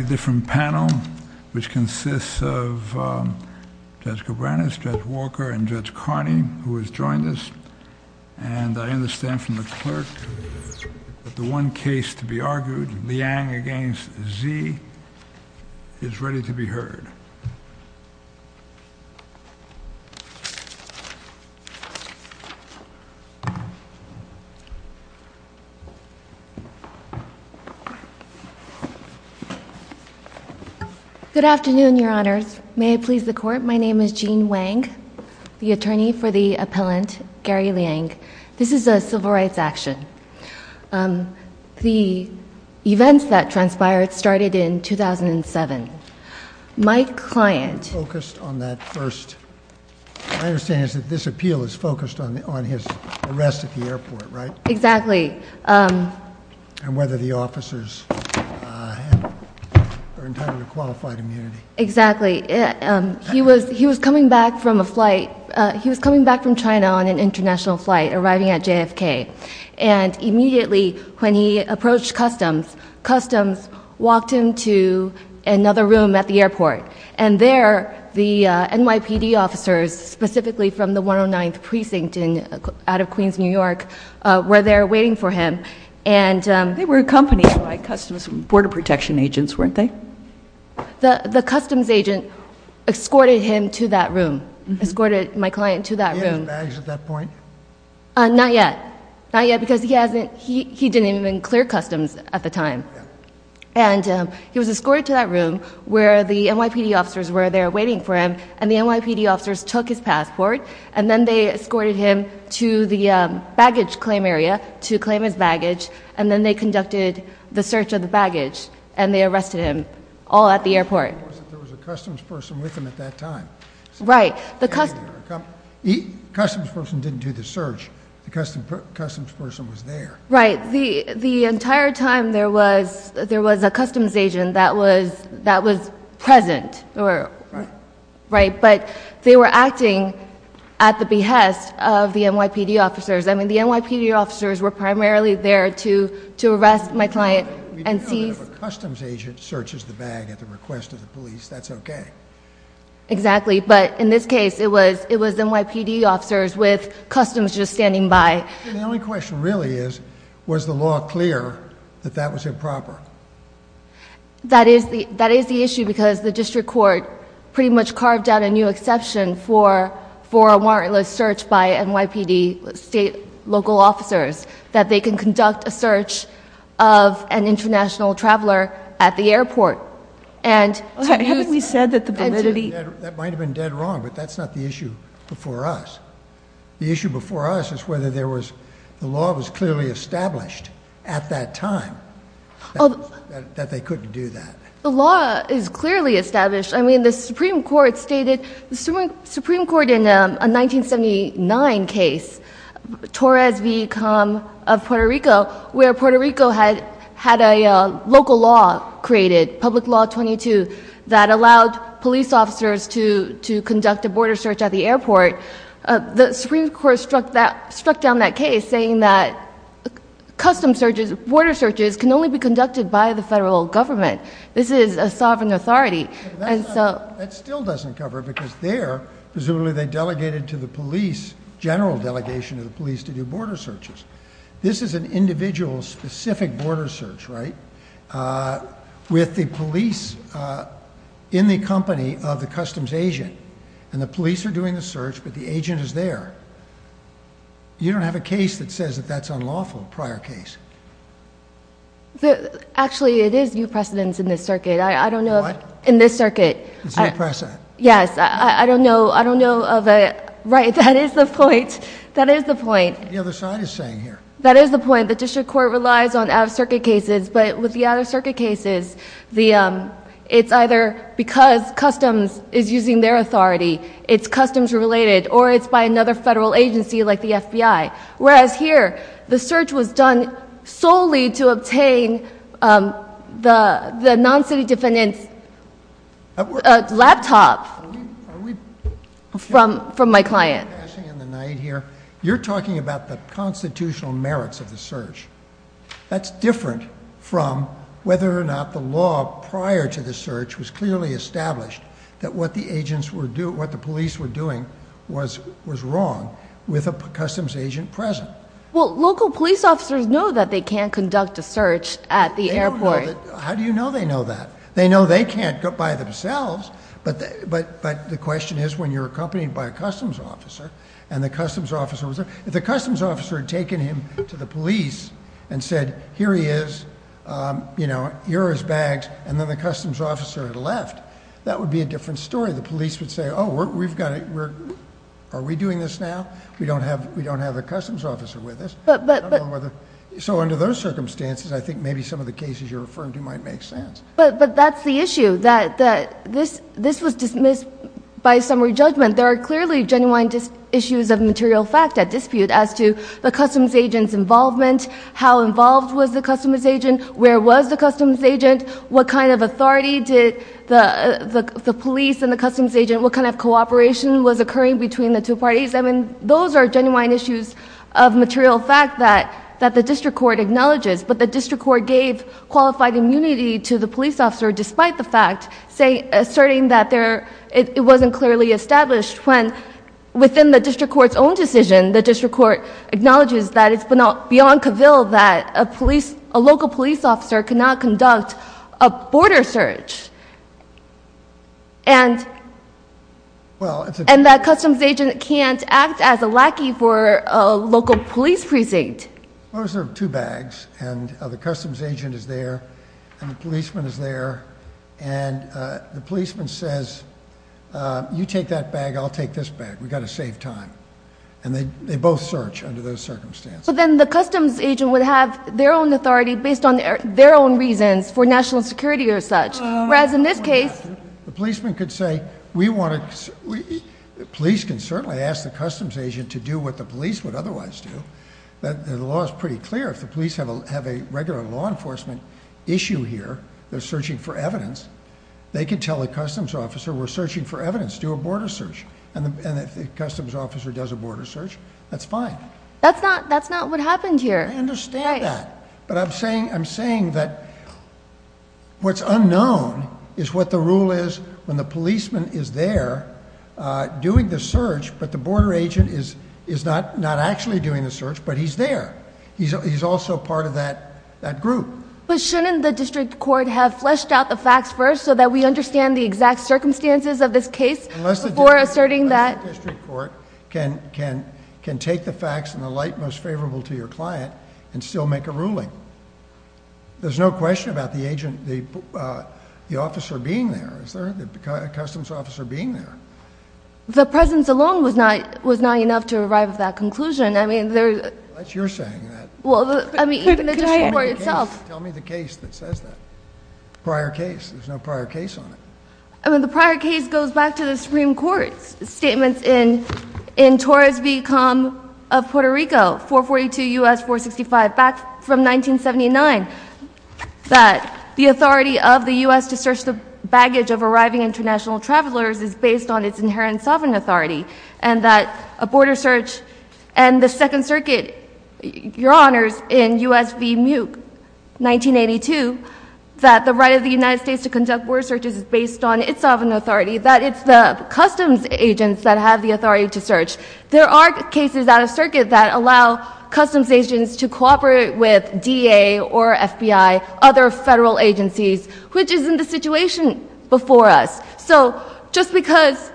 A different panel, which consists of Judge Cabranes, Judge Walker, and Judge Carney, who has joined us. And I understand from the clerk that the one case to be argued, Liang v. Zee, is ready to be heard. Good afternoon, Your Honors. May it please the Court, my name is Jean Wang, the attorney for the appellant, Gary Liang. This is a civil rights action. The events that transpired started in 2007. My client focused on that first. My understanding is that this appeal is focused on his arrest at the airport, right? Exactly. And whether the officers were entitled to qualified immunity. Exactly. He was coming back from a flight. He was coming back from China on an international flight, arriving at JFK. And immediately, when he approached Customs, Customs walked him to another room at the airport. And there, the NYPD officers, specifically from the 109th Precinct out of Queens, New York, were there waiting for him. They were accompanied by Customs border protection agents, weren't they? The Customs agent escorted him to that room. Escorted my client to that room. Did he have his bags at that point? Not yet. Not yet, because he didn't even clear Customs at the time. And he was escorted to that room, where the NYPD officers were there waiting for him. And the NYPD officers took his passport, and then they escorted him to the baggage claim area to claim his baggage. And then they conducted the search of the baggage, and they arrested him, all at the airport. But there was a Customs person with him at that time. Right. The Customs person didn't do the search. The Customs person was there. Right. The entire time, there was a Customs agent that was present. Right. Right. But they were acting at the behest of the NYPD officers. I mean, the NYPD officers were primarily there to arrest my client and seize... We know that if a Customs agent searches the bag at the request of the police, that's okay. Exactly. But in this case, it was NYPD officers with Customs just standing by. The only question really is, was the law clear that that was improper? That is the issue, because the district court pretty much carved out a new exception for a warrantless search by NYPD state, local officers, that they can conduct a search of an international traveler at the airport. Haven't we said that the validity... That might have been dead wrong, but that's not the issue before us. The issue before us is whether the law was clearly established at that time, that they couldn't do that. The law is clearly established. I mean, the Supreme Court stated... The Supreme Court in a 1979 case, Torres v. Com of Puerto Rico, where Puerto Rico had a local law created, Public Law 22, that allowed police officers to conduct a border search at the airport. The Supreme Court struck down that case, saying that Customs searches, border searches, can only be conducted by the federal government. This is a sovereign authority. That still doesn't cover it, because there, presumably they delegated to the police, general delegation of the police, to do border searches. This is an individual specific border search, right? With the police in the company of the Customs agent, and the police are doing the search, but the agent is there. You don't have a case that says that that's unlawful, prior case. Actually, it is new precedence in this circuit. What? In this circuit. It's new precedent. Yes, I don't know of a... Right, that is the point. That is the point. That's what the other side is saying here. That is the point. The district court relies on out-of-circuit cases, but with the out-of-circuit cases, it's either because Customs is using their authority, it's Customs related, or it's by another federal agency, like the FBI. Whereas here, the search was done solely to obtain the non-city defendant's laptop from my client. You're talking about the constitutional merits of the search. That's different from whether or not the law prior to the search was clearly established that what the police were doing was wrong, with a Customs agent present. Well, local police officers know that they can't conduct a search at the airport. How do you know they know that? They know they can't go by themselves, but the question is when you're accompanied by a Customs officer, and the Customs officer... If the Customs officer had taken him to the police and said, here he is, you're his bags, and then the Customs officer had left, that would be a different story. The police would say, oh, we've got to... are we doing this now? We don't have the Customs officer with us. So under those circumstances, I think maybe some of the cases you're referring to might make sense. But that's the issue, that this was dismissed by summary judgment. There are clearly genuine issues of material fact at dispute as to the Customs agent's involvement, how involved was the Customs agent, where was the Customs agent... What kind of authority did the police and the Customs agent... What kind of cooperation was occurring between the two parties? I mean, those are genuine issues of material fact that the district court acknowledges. But the district court gave qualified immunity to the police officer, despite the fact, saying... asserting that there... It wasn't clearly established when, within the district court's own decision, the district court acknowledges that it's beyond cavill that a police... A local police officer cannot conduct a border search. And... And that Customs agent can't act as a lackey for a local police precinct. Those are two bags and the Customs agent is there and the policeman is there and the policeman says, you take that bag, I'll take this bag. We've got to save time. And they both search under those circumstances. But then the Customs agent would have their own authority, based on their own reasons, for national security or such. Whereas in this case... The policeman could say, we want to... The law is pretty clear. If the police have a regular law enforcement issue here, they're searching for evidence. They could tell the Customs officer, we're searching for evidence. Do a border search. And if the Customs officer does a border search, that's fine. That's not what happened here. I understand that. But I'm saying that... He's also part of that group. But shouldn't the district court have fleshed out the facts first so that we understand the exact circumstances of this case before asserting that... Unless the district court can take the facts in the light most favorable to your client and still make a ruling. There's no question about the agent... the officer being there, is there? The Customs officer being there. The presence alone was not enough to arrive at that conclusion. I mean... Unless you're saying that. Well, I mean... Could I... Tell me the case that says that. Prior case. There's no prior case on it. The prior case goes back to the Supreme Court's statements in Torres v. Com of Puerto Rico, 442 U.S. 465, back from 1979. That the authority of the U.S. to search the baggage of arriving international travelers is based on its inherent sovereign authority. And that a border search... And the Second Circuit... Your Honors, in U.S. v. Muke, 1982. That the right of the United States to conduct border searches is based on its sovereign authority. That it's the Customs agents that have the authority to search. There are cases out of Circuit that allow Customs agents to cooperate with DEA or FBI, other federal agencies. Which is in the situation before us. So, just because...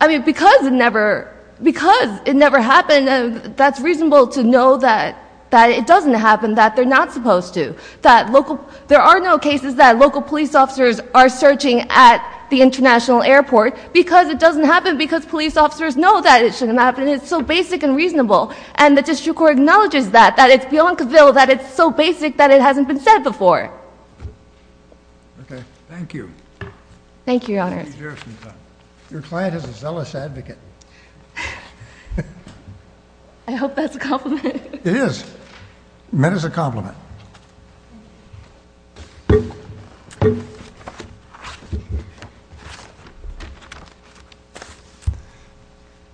I mean, because it never... Because it never happened... That's reasonable to know that... That it doesn't happen. That they're not supposed to. That local... There are no cases that local police officers are searching at the international airport. Because it doesn't happen. Because police officers know that it shouldn't happen. It's so basic and reasonable. And the District Court acknowledges that. That it's beyond the bill. That it's so basic that it hasn't been said before. Okay. Thank you. Thank you, Your Honor. Your client is a zealous advocate. I hope that's a compliment. It is. Met as a compliment.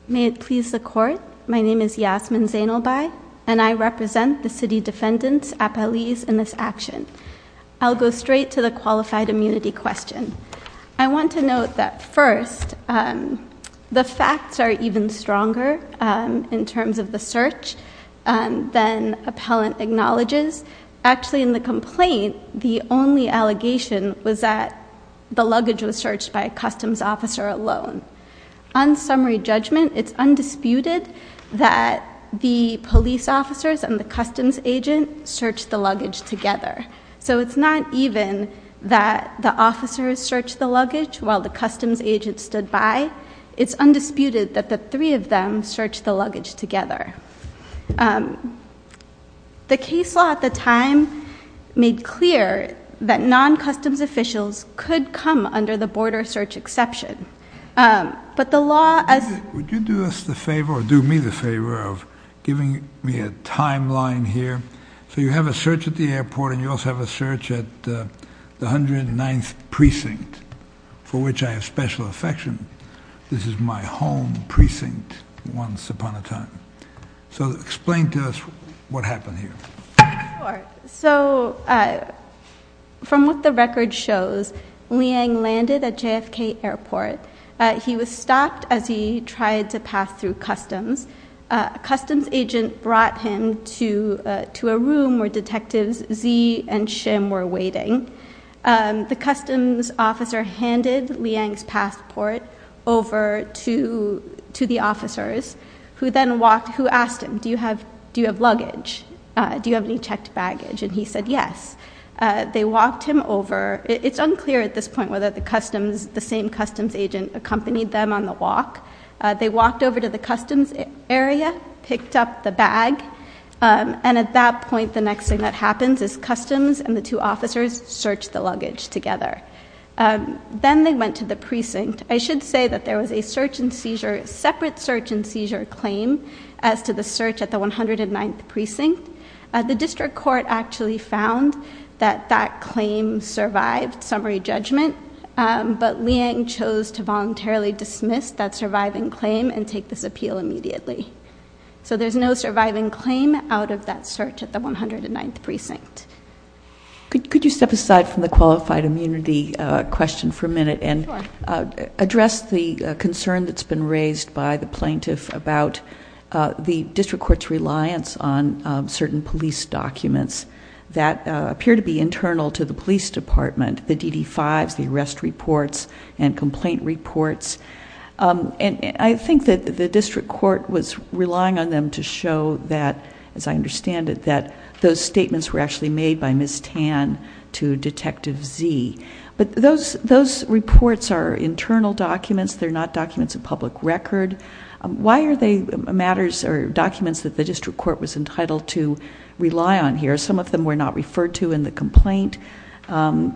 May it please the Court. My name is Yasmin Zainalbai. And I represent the city defendants, appellees, in this action. I'll go straight to the qualified immunity question. I want to note that first, the facts are even stronger in terms of the search than appellant acknowledges. Actually, in the complaint, the only allegation was that the luggage was searched by a customs officer alone. On summary judgment, it's undisputed that the police officers and the customs agent searched the luggage together. So it's not even that the officers searched the luggage while the customs agent stood by. It's undisputed that the three of them searched the luggage together. The case law at the time made clear that non-customs officials could come under the border search exception. But the law as— Would you do us the favor, or do me the favor, of giving me a timeline here? So you have a search at the airport, and you also have a search at the 109th Precinct, for which I have special affection. This is my home precinct once upon a time. So explain to us what happened here. Sure. So from what the record shows, Liang landed at JFK Airport. He was stopped as he tried to pass through customs. A customs agent brought him to a room where Detectives Zee and Shim were waiting. The customs officer handed Liang's passport over to the officers, who then walked— who asked him, do you have luggage? Do you have any checked baggage? And he said yes. They walked him over. It's unclear at this point whether the same customs agent accompanied them on the walk. They walked over to the customs area, picked up the bag, and at that point the next thing that happens is customs and the two officers search the luggage together. Then they went to the precinct. I should say that there was a separate search and seizure claim as to the search at the 109th Precinct. The district court actually found that that claim survived summary judgment, but Liang chose to voluntarily dismiss that surviving claim and take this appeal immediately. So there's no surviving claim out of that search at the 109th Precinct. Could you step aside from the qualified immunity question for a minute and address the concern that's been raised by the plaintiff about the district court's reliance on certain police documents that appear to be internal to the police department, the DD-5s, the arrest reports, and complaint reports? I think that the district court was relying on them to show that, as I understand it, that those statements were actually made by Ms. Tan to Detective Z. But those reports are internal documents. They're not documents of public record. Why are they documents that the district court was entitled to rely on here? Some of them were not referred to in the complaint. Rule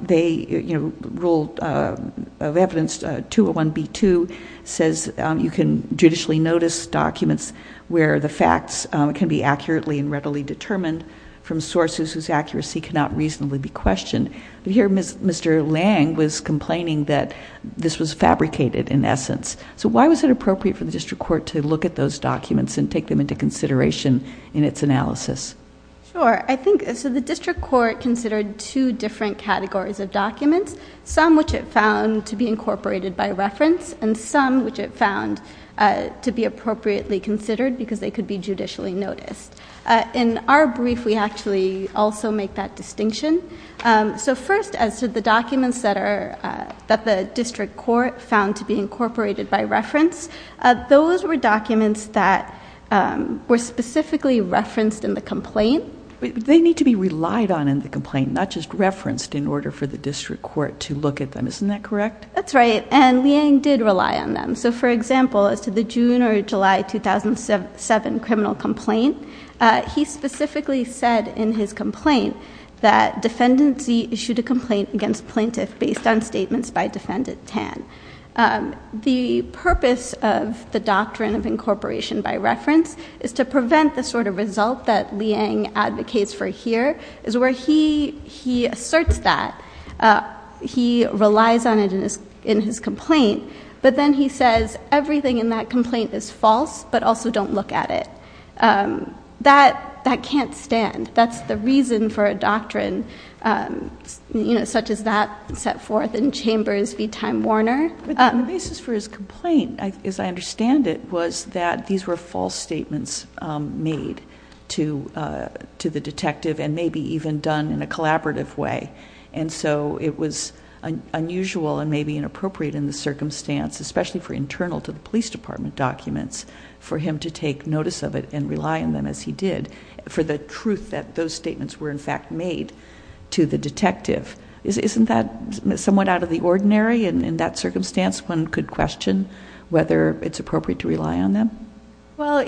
of Evidence 201B2 says you can judicially notice documents where the facts can be accurately and readily determined from sources whose accuracy cannot reasonably be questioned. Here, Mr. Liang was complaining that this was fabricated, in essence. So why was it appropriate for the district court to look at those documents and take them into consideration in its analysis? Sure. I think the district court considered two different categories of documents, some which it found to be incorporated by reference and some which it found to be appropriately considered because they could be judicially noticed. In our brief, we actually also make that distinction. So first, as to the documents that the district court found to be incorporated by reference, those were documents that were specifically referenced in the complaint. They need to be relied on in the complaint, not just referenced, in order for the district court to look at them. Isn't that correct? That's right. And Liang did rely on them. So, for example, as to the June or July 2007 criminal complaint, he specifically said in his complaint that defendants issued a complaint against plaintiffs based on statements by defendant Tan. The purpose of the doctrine of incorporation by reference is to prevent the sort of result that Liang advocates for here, is where he asserts that. He relies on it in his complaint, but then he says everything in that complaint is false, but also don't look at it. That can't stand. That's the reason for a doctrine such as that set forth in Chambers v. Time Warner. The basis for his complaint, as I understand it, was that these were false statements made to the detective and maybe even done in a collaborative way. And so it was unusual and maybe inappropriate in the circumstance, especially for internal to the police department documents, for him to take notice of it and rely on them as he did, for the truth that those statements were in fact made to the detective. Isn't that somewhat out of the ordinary? And in that circumstance, one could question whether it's appropriate to rely on them? Well,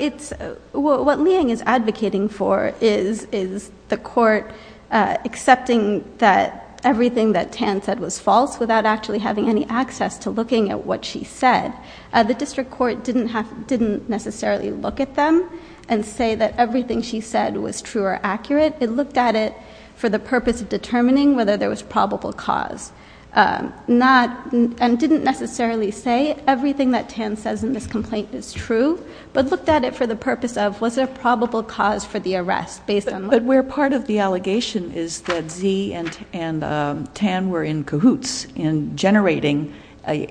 what Liang is advocating for is the court accepting that everything that Tan said was false without actually having any access to looking at what she said. The district court didn't necessarily look at them and say that everything she said was true or accurate. It looked at it for the purpose of determining whether there was probable cause and didn't necessarily say everything that Tan says in this complaint is true, but looked at it for the purpose of was there a probable cause for the arrest based on what she said. But where part of the allegation is that Z and Tan were in cahoots in generating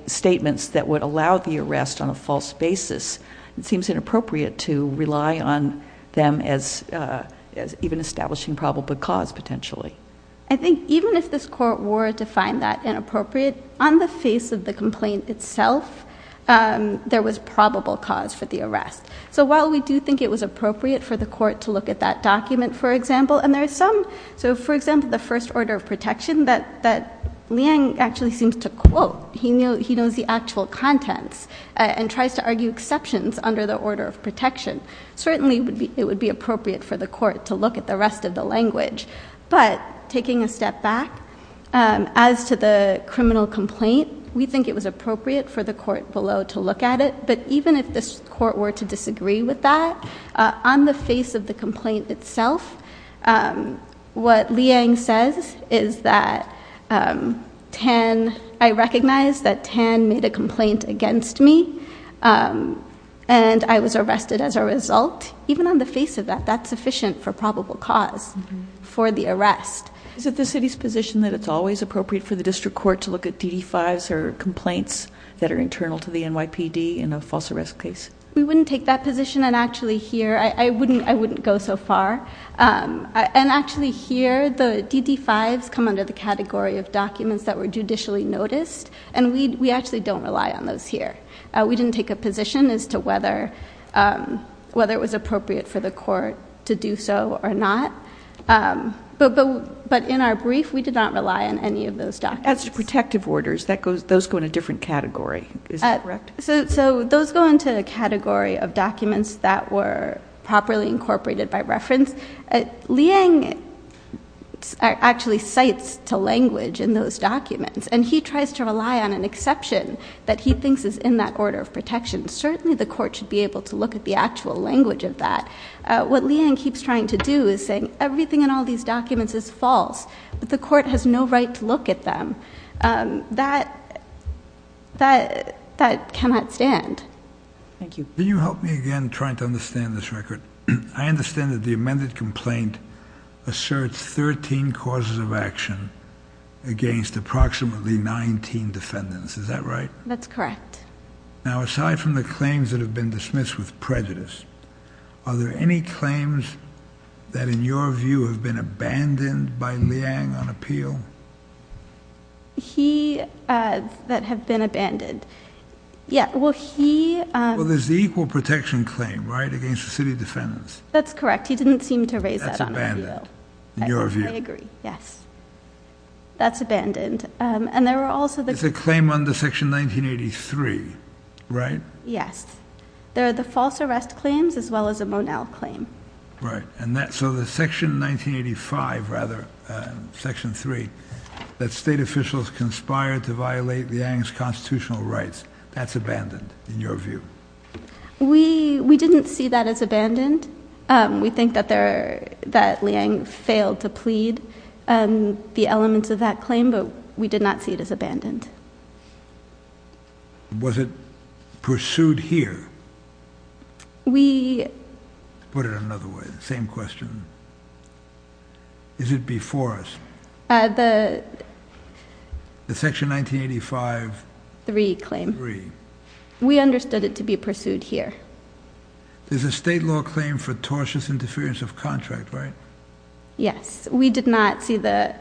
statements that would allow the arrest on a false basis, it seems inappropriate to rely on them as even establishing probable cause potentially. I think even if this court were to find that inappropriate, on the face of the complaint itself, there was probable cause for the arrest. So while we do think it was appropriate for the court to look at that document, for example, the first order of protection that Liang actually seems to quote, he knows the actual contents and tries to argue exceptions under the order of protection. Certainly it would be appropriate for the court to look at the rest of the language. But taking a step back, as to the criminal complaint, we think it was appropriate for the court below to look at it. But even if this court were to disagree with that, on the face of the complaint itself, what Liang says is that Tan, I recognize that Tan made a complaint against me, and I was arrested as a result. Even on the face of that, that's sufficient for probable cause for the arrest. Is it the city's position that it's always appropriate for the district court to look at DD-5s or complaints that are internal to the NYPD in a false arrest case? We wouldn't take that position, and actually here, I wouldn't go so far. And actually here, the DD-5s come under the category of documents that were judicially noticed, and we actually don't rely on those here. We didn't take a position as to whether it was appropriate for the court to do so or not. But in our brief, we did not rely on any of those documents. As to protective orders, those go in a different category. Is that correct? So those go into a category of documents that were properly incorporated by reference. Liang actually cites to language in those documents, and he tries to rely on an exception that he thinks is in that order of protection. Certainly the court should be able to look at the actual language of that. What Liang keeps trying to do is saying everything in all these documents is false, but the court has no right to look at them. That cannot stand. Thank you. Can you help me again trying to understand this record? I understand that the amended complaint asserts 13 causes of action against approximately 19 defendants. Is that right? That's correct. Now aside from the claims that have been dismissed with prejudice, are there any claims that, in your view, have been abandoned by Liang on appeal? He, that have been abandoned. Yeah, well, he... Well, there's the equal protection claim, right, against the city defendants. That's correct. He didn't seem to raise that on appeal. That's abandoned, in your view. I agree, yes. That's abandoned. And there are also the... It's a claim under Section 1983, right? Yes. There are the false arrest claims, as well as the Monell claim. Right. So the Section 1985, rather, Section 3, that state officials conspired to violate Liang's constitutional rights, that's abandoned, in your view. We didn't see that as abandoned. We think that Liang failed to plead the elements of that claim, but we did not see it as abandoned. Was it pursued here? We... Put it another way, the same question. Is it before us? The... The Section 1985... 3 claim. 3. We understood it to be pursued here. There's a state law claim for tortious interference of contract, right? Yes. We did not see the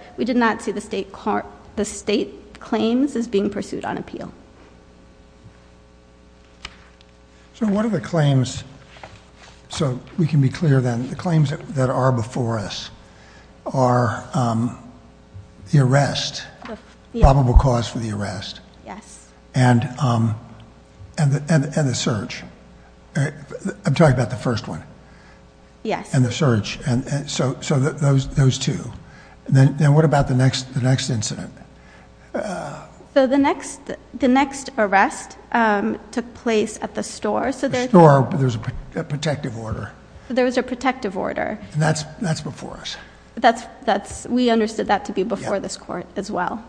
state claims. This is being pursued on appeal. So what are the claims... So we can be clear, then. The claims that are before us are the arrest, probable cause for the arrest. Yes. And the search. I'm talking about the first one. Yes. And the search. So those two. Then what about the next incident? So the next arrest took place at the store. The store. There was a protective order. There was a protective order. And that's before us. We understood that to be before this court as well.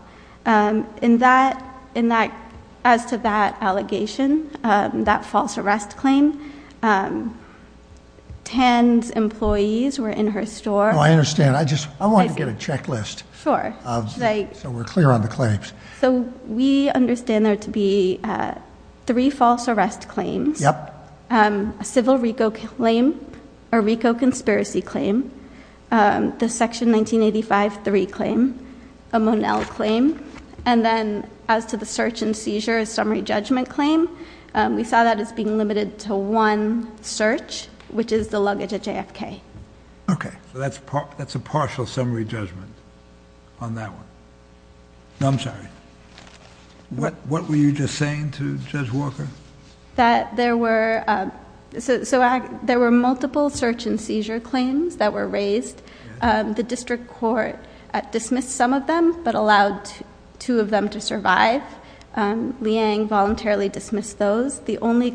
As to that allegation, that false arrest claim, Tan's employees were in her store. I understand. I just wanted to get a checklist. Sure. So we're clear on the claims. So we understand there to be three false arrest claims. Yep. A civil RICO claim. A RICO conspiracy claim. The Section 1985. 3 claim. A Monell claim. And then as to the search and seizure summary judgment claim, we saw that as being limited to one search, which is the luggage at JFK. Okay. So that's a partial summary judgment on that one. No, I'm sorry. What were you just saying to Judge Walker? That there were multiple search and seizure claims that were raised. The district court dismissed some of them, but allowed two of them to survive. Liang voluntarily dismissed those. The only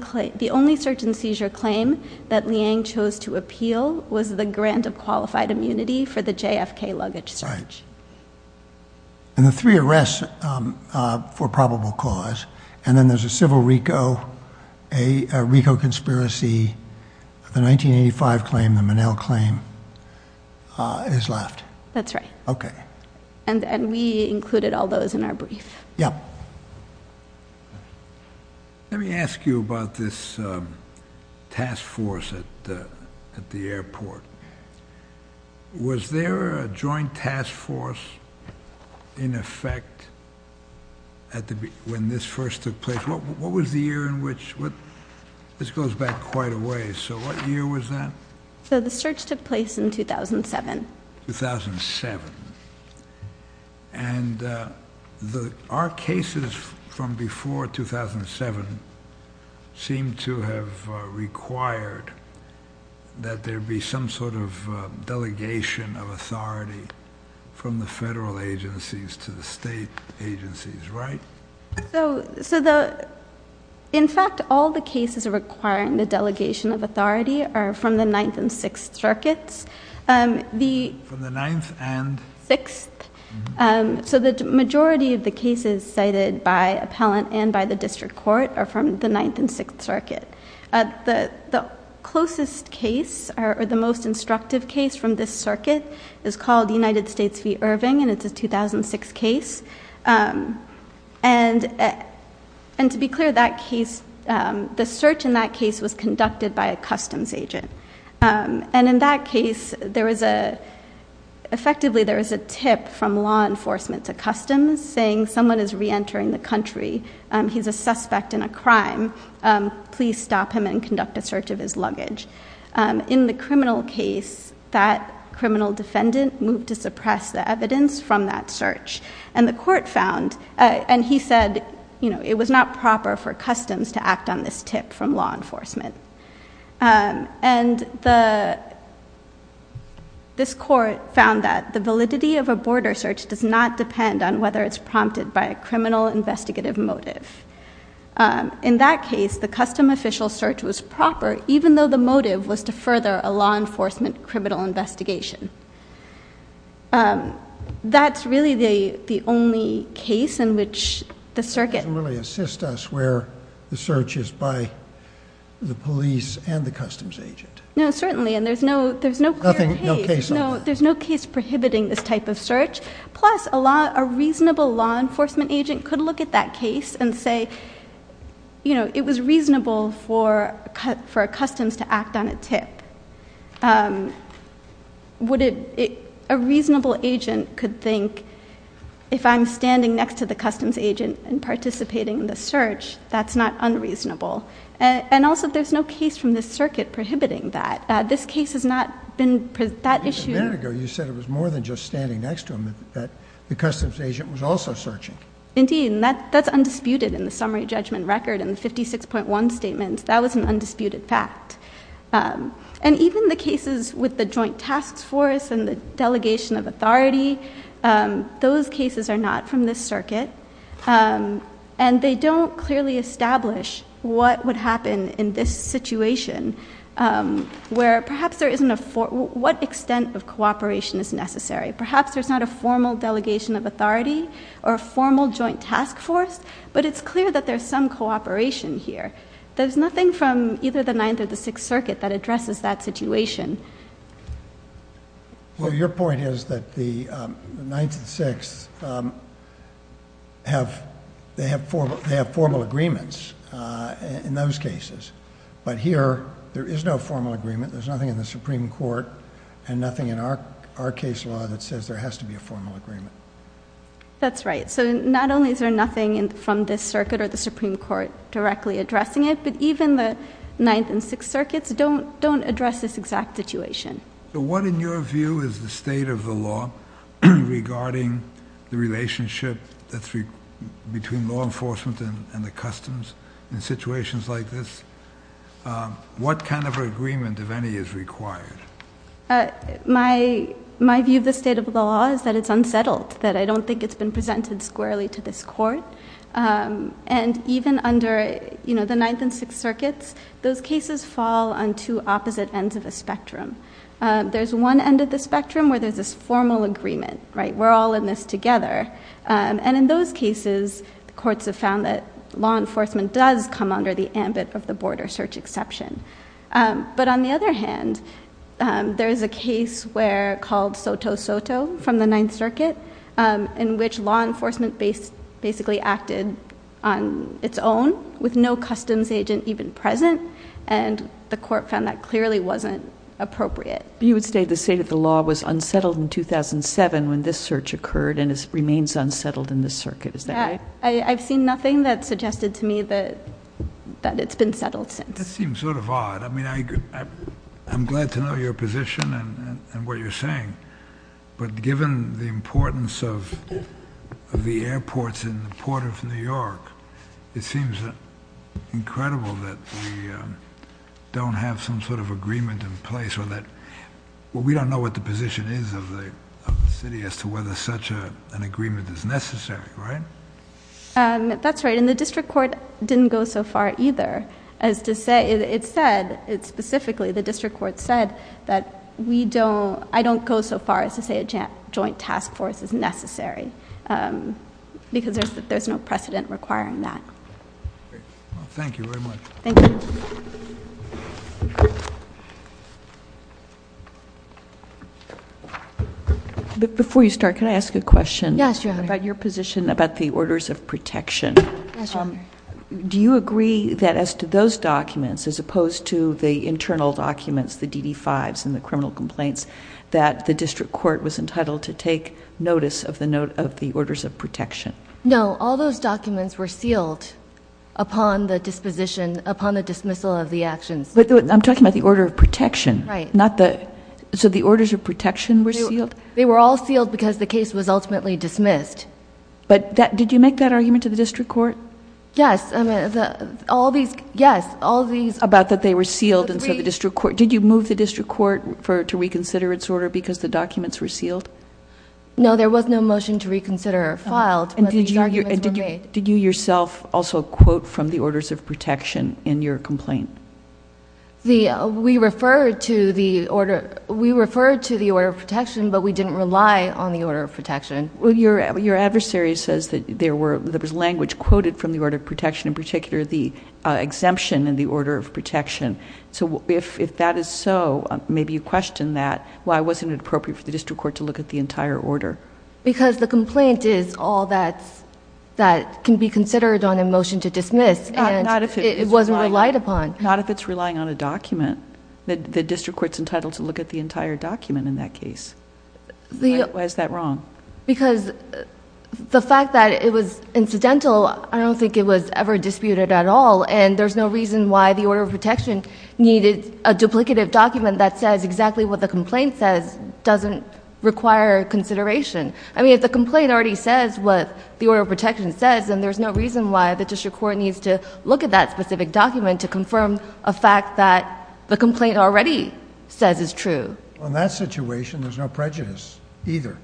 search and seizure claim that Liang chose to appeal was the grant of qualified immunity for the JFK luggage search. And the three arrests for probable cause, and then there's a civil RICO, a RICO conspiracy, the 1985 claim, the Monell claim, is left. That's right. Okay. And we included all those in our brief. Yep. Let me ask you about this task force at the airport. Was there a joint task force in effect when this first took place? What was the year in which? This goes back quite a ways. So what year was that? The search took place in 2007. 2007. And our cases from before 2007 seem to have required that there be some sort of delegation of authority from the federal agencies to the state agencies, right? In fact, all the cases requiring the delegation of authority are from the Ninth and Sixth Circuits. From the Ninth and? Sixth. So the majority of the cases cited by appellant and by the district court are from the Ninth and Sixth Circuit. The closest case or the most instructive case from this circuit is called United States v. Irving, and it's a 2006 case. And to be clear, the search in that case was conducted by a customs agent. And in that case, effectively there is a tip from law enforcement to customs saying someone is reentering the country. He's a suspect in a crime. Please stop him and conduct a search of his luggage. In the criminal case, that criminal defendant moved to suppress the evidence from that search. And the court found, and he said it was not proper for customs to act on this tip from law enforcement. And this court found that the validity of a border search does not depend on whether it's prompted by a criminal investigative motive. In that case, the custom official search was proper even though the motive was to further a law enforcement criminal investigation. That's really the only case in which the circuit... ...can really assist us where the search is by the police and the customs agent. No, certainly, and there's no clear case. There's no case prohibiting this type of search. Plus, a reasonable law enforcement agent could look at that case and say, you know, it was reasonable for customs to act on a tip. A reasonable agent could think, if I'm standing next to the customs agent and participating in the search, that's not unreasonable. And also, there's no case from the circuit prohibiting that. This case has not been... A minute ago, you said it was more than just standing next to him, that the customs agent was also searching. Indeed, and that's undisputed in the summary judgment record and the 56.1 statement. That was an undisputed fact. And even the cases with the joint task force and the delegation of authority, those cases are not from this circuit. And they don't clearly establish what would happen in this situation where perhaps there isn't a... What extent of cooperation is necessary? Perhaps there's not a formal delegation of authority or a formal joint task force, but it's clear that there's some cooperation here. that addresses that situation. Well, your point is that the Ninth and Sixth have formal agreements in those cases. But here, there is no formal agreement. There's nothing in the Supreme Court and nothing in our case law that says there has to be a formal agreement. That's right. So not only is there nothing from this circuit or the Supreme Court directly addressing it, but even the Ninth and Sixth Circuits don't address this exact situation. What, in your view, is the state of the law regarding the relationship between law enforcement and the customs in situations like this? What kind of agreement, if any, is required? My view of the state of the law is that it's unsettled, that I don't think it's been presented squarely to this court. And even under the Ninth and Sixth Circuits, those cases fall on two opposite ends of a spectrum. There's one end of the spectrum where there's this formal agreement. We're all in this together. And in those cases, the courts have found that law enforcement does come under the ambit of the border search exception. But on the other hand, there is a case called Soto-Soto from the Ninth Circuit in which law enforcement basically acted on its own with no customs agent even present, and the court found that clearly wasn't appropriate. You would say the state of the law was unsettled in 2007 when this search occurred, and it remains unsettled in this circuit, is that right? I've seen nothing that suggested to me that it's been settled since. That seems sort of odd. I mean, I'm glad to know your position and what you're saying, but given the importance of the airports in the Port of New York, it seems incredible that we don't have some sort of agreement in place or that we don't know what the position is of the city as to whether such an agreement is necessary, right? That's right, and the district court didn't go so far either as to say... It said, specifically, the district court said that we don't... I don't go so far as to say a joint task force is necessary because there's no precedent requiring that. Thank you very much. Thank you. Before you start, can I ask a question... Yes, Your Honor.... about your position about the orders of protection? Yes, Your Honor. Do you agree that as to those documents, as opposed to the internal documents, the DD-5s and the criminal complaints, that the district court was entitled to take notice of the orders of protection? No, all those documents were sealed upon the disposition, upon the dismissal of the actions. But I'm talking about the order of protection. Right. So the orders of protection were sealed? They were all sealed because the case was ultimately dismissed. But did you make that argument to the district court? Yes, all these... About that they were sealed and so the district court... Did the district court reconsider its order because the documents were sealed? No, there was no motion to reconsider filed, but these arguments were made. Did you yourself also quote from the orders of protection in your complaint? We referred to the order of protection, but we didn't rely on the order of protection. Your adversary says that there was language quoted from the order of protection, in particular the exemption in the order of protection. If that is so, maybe you question that, why wasn't it appropriate for the district court to look at the entire order? Because the complaint is all that can be considered on a motion to dismiss, and it wasn't relied upon. Not if it's relying on a document. The district court's entitled to look at the entire document in that case. Why is that wrong? Because the fact that it was incidental, I don't think it was ever disputed at all, and there's no reason why the order of protection needed a duplicative document that says exactly what the complaint says doesn't require consideration. If the complaint already says what the order of protection says, then there's no reason why the district court needs to look at that specific document to confirm a fact that the complaint already says is true. In that situation, there's no prejudice either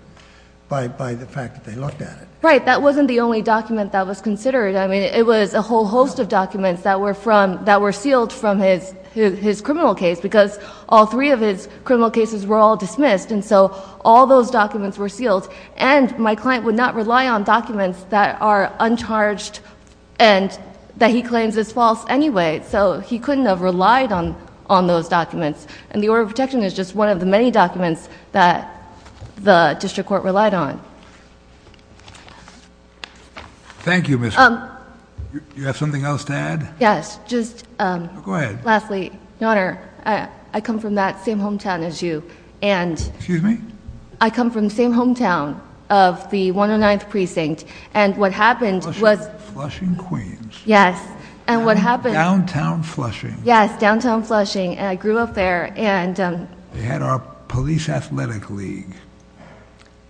by the fact that they looked at it. Right, that wasn't the only document that was considered. I mean, it was a whole host of documents that were sealed from his criminal case because all three of his criminal cases were all dismissed, and so all those documents were sealed, and my client would not rely on documents that are uncharged and that he claims is false anyway, so he couldn't have relied on those documents, and the order of protection is just one of the many documents that the district court relied on. Thank you. Thank you, Mr. Do you have something else to add? Yes. Go ahead. Lastly, Your Honor, I come from that same hometown as you. Excuse me? I come from the same hometown of the 109th Precinct, and what happened was Flushing, Queens. Yes, and what happened Downtown Flushing. Yes, downtown Flushing, and I grew up there. They had our police athletic league.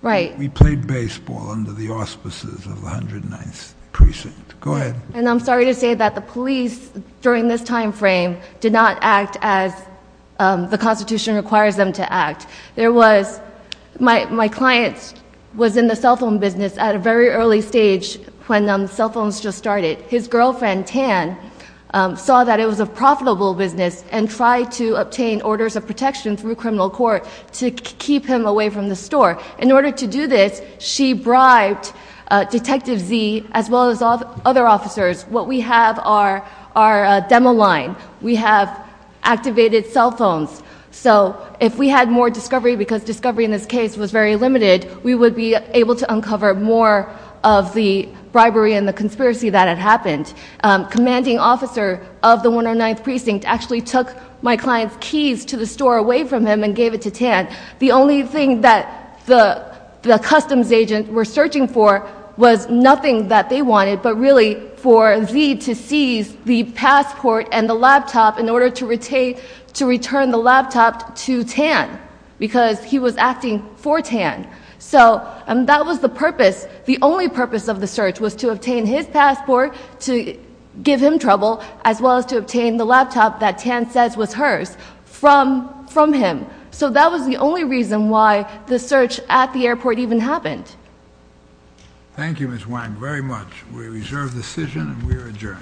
Right. We played baseball under the auspices of the 109th Precinct. Go ahead. And I'm sorry to say that the police, during this time frame, did not act as the Constitution requires them to act. My client was in the cell phone business at a very early stage when cell phones just started. His girlfriend, Tan, saw that it was a profitable business and tried to obtain orders of protection through criminal court to keep him away from the store. In order to do this, she bribed Detective Z as well as other officers. What we have are demo line. We have activated cell phones, so if we had more discovery, because discovery in this case was very limited, we would be able to uncover more of the bribery and the conspiracy that had happened. Commanding officer of the 109th Precinct actually took my client's keys to the store away from him and gave it to Tan. The only thing that the customs agents were searching for was nothing that they wanted but really for Z to seize the passport and the laptop in order to return the laptop to Tan because he was acting for Tan. So that was the purpose. The only purpose of the search was to obtain his passport to give him trouble as well as to obtain the laptop that Tan says was hers from him. So that was the only reason why the search at the airport even happened. Thank you, Ms. Wang, very much. We reserve the decision and we are adjourned. Thank you.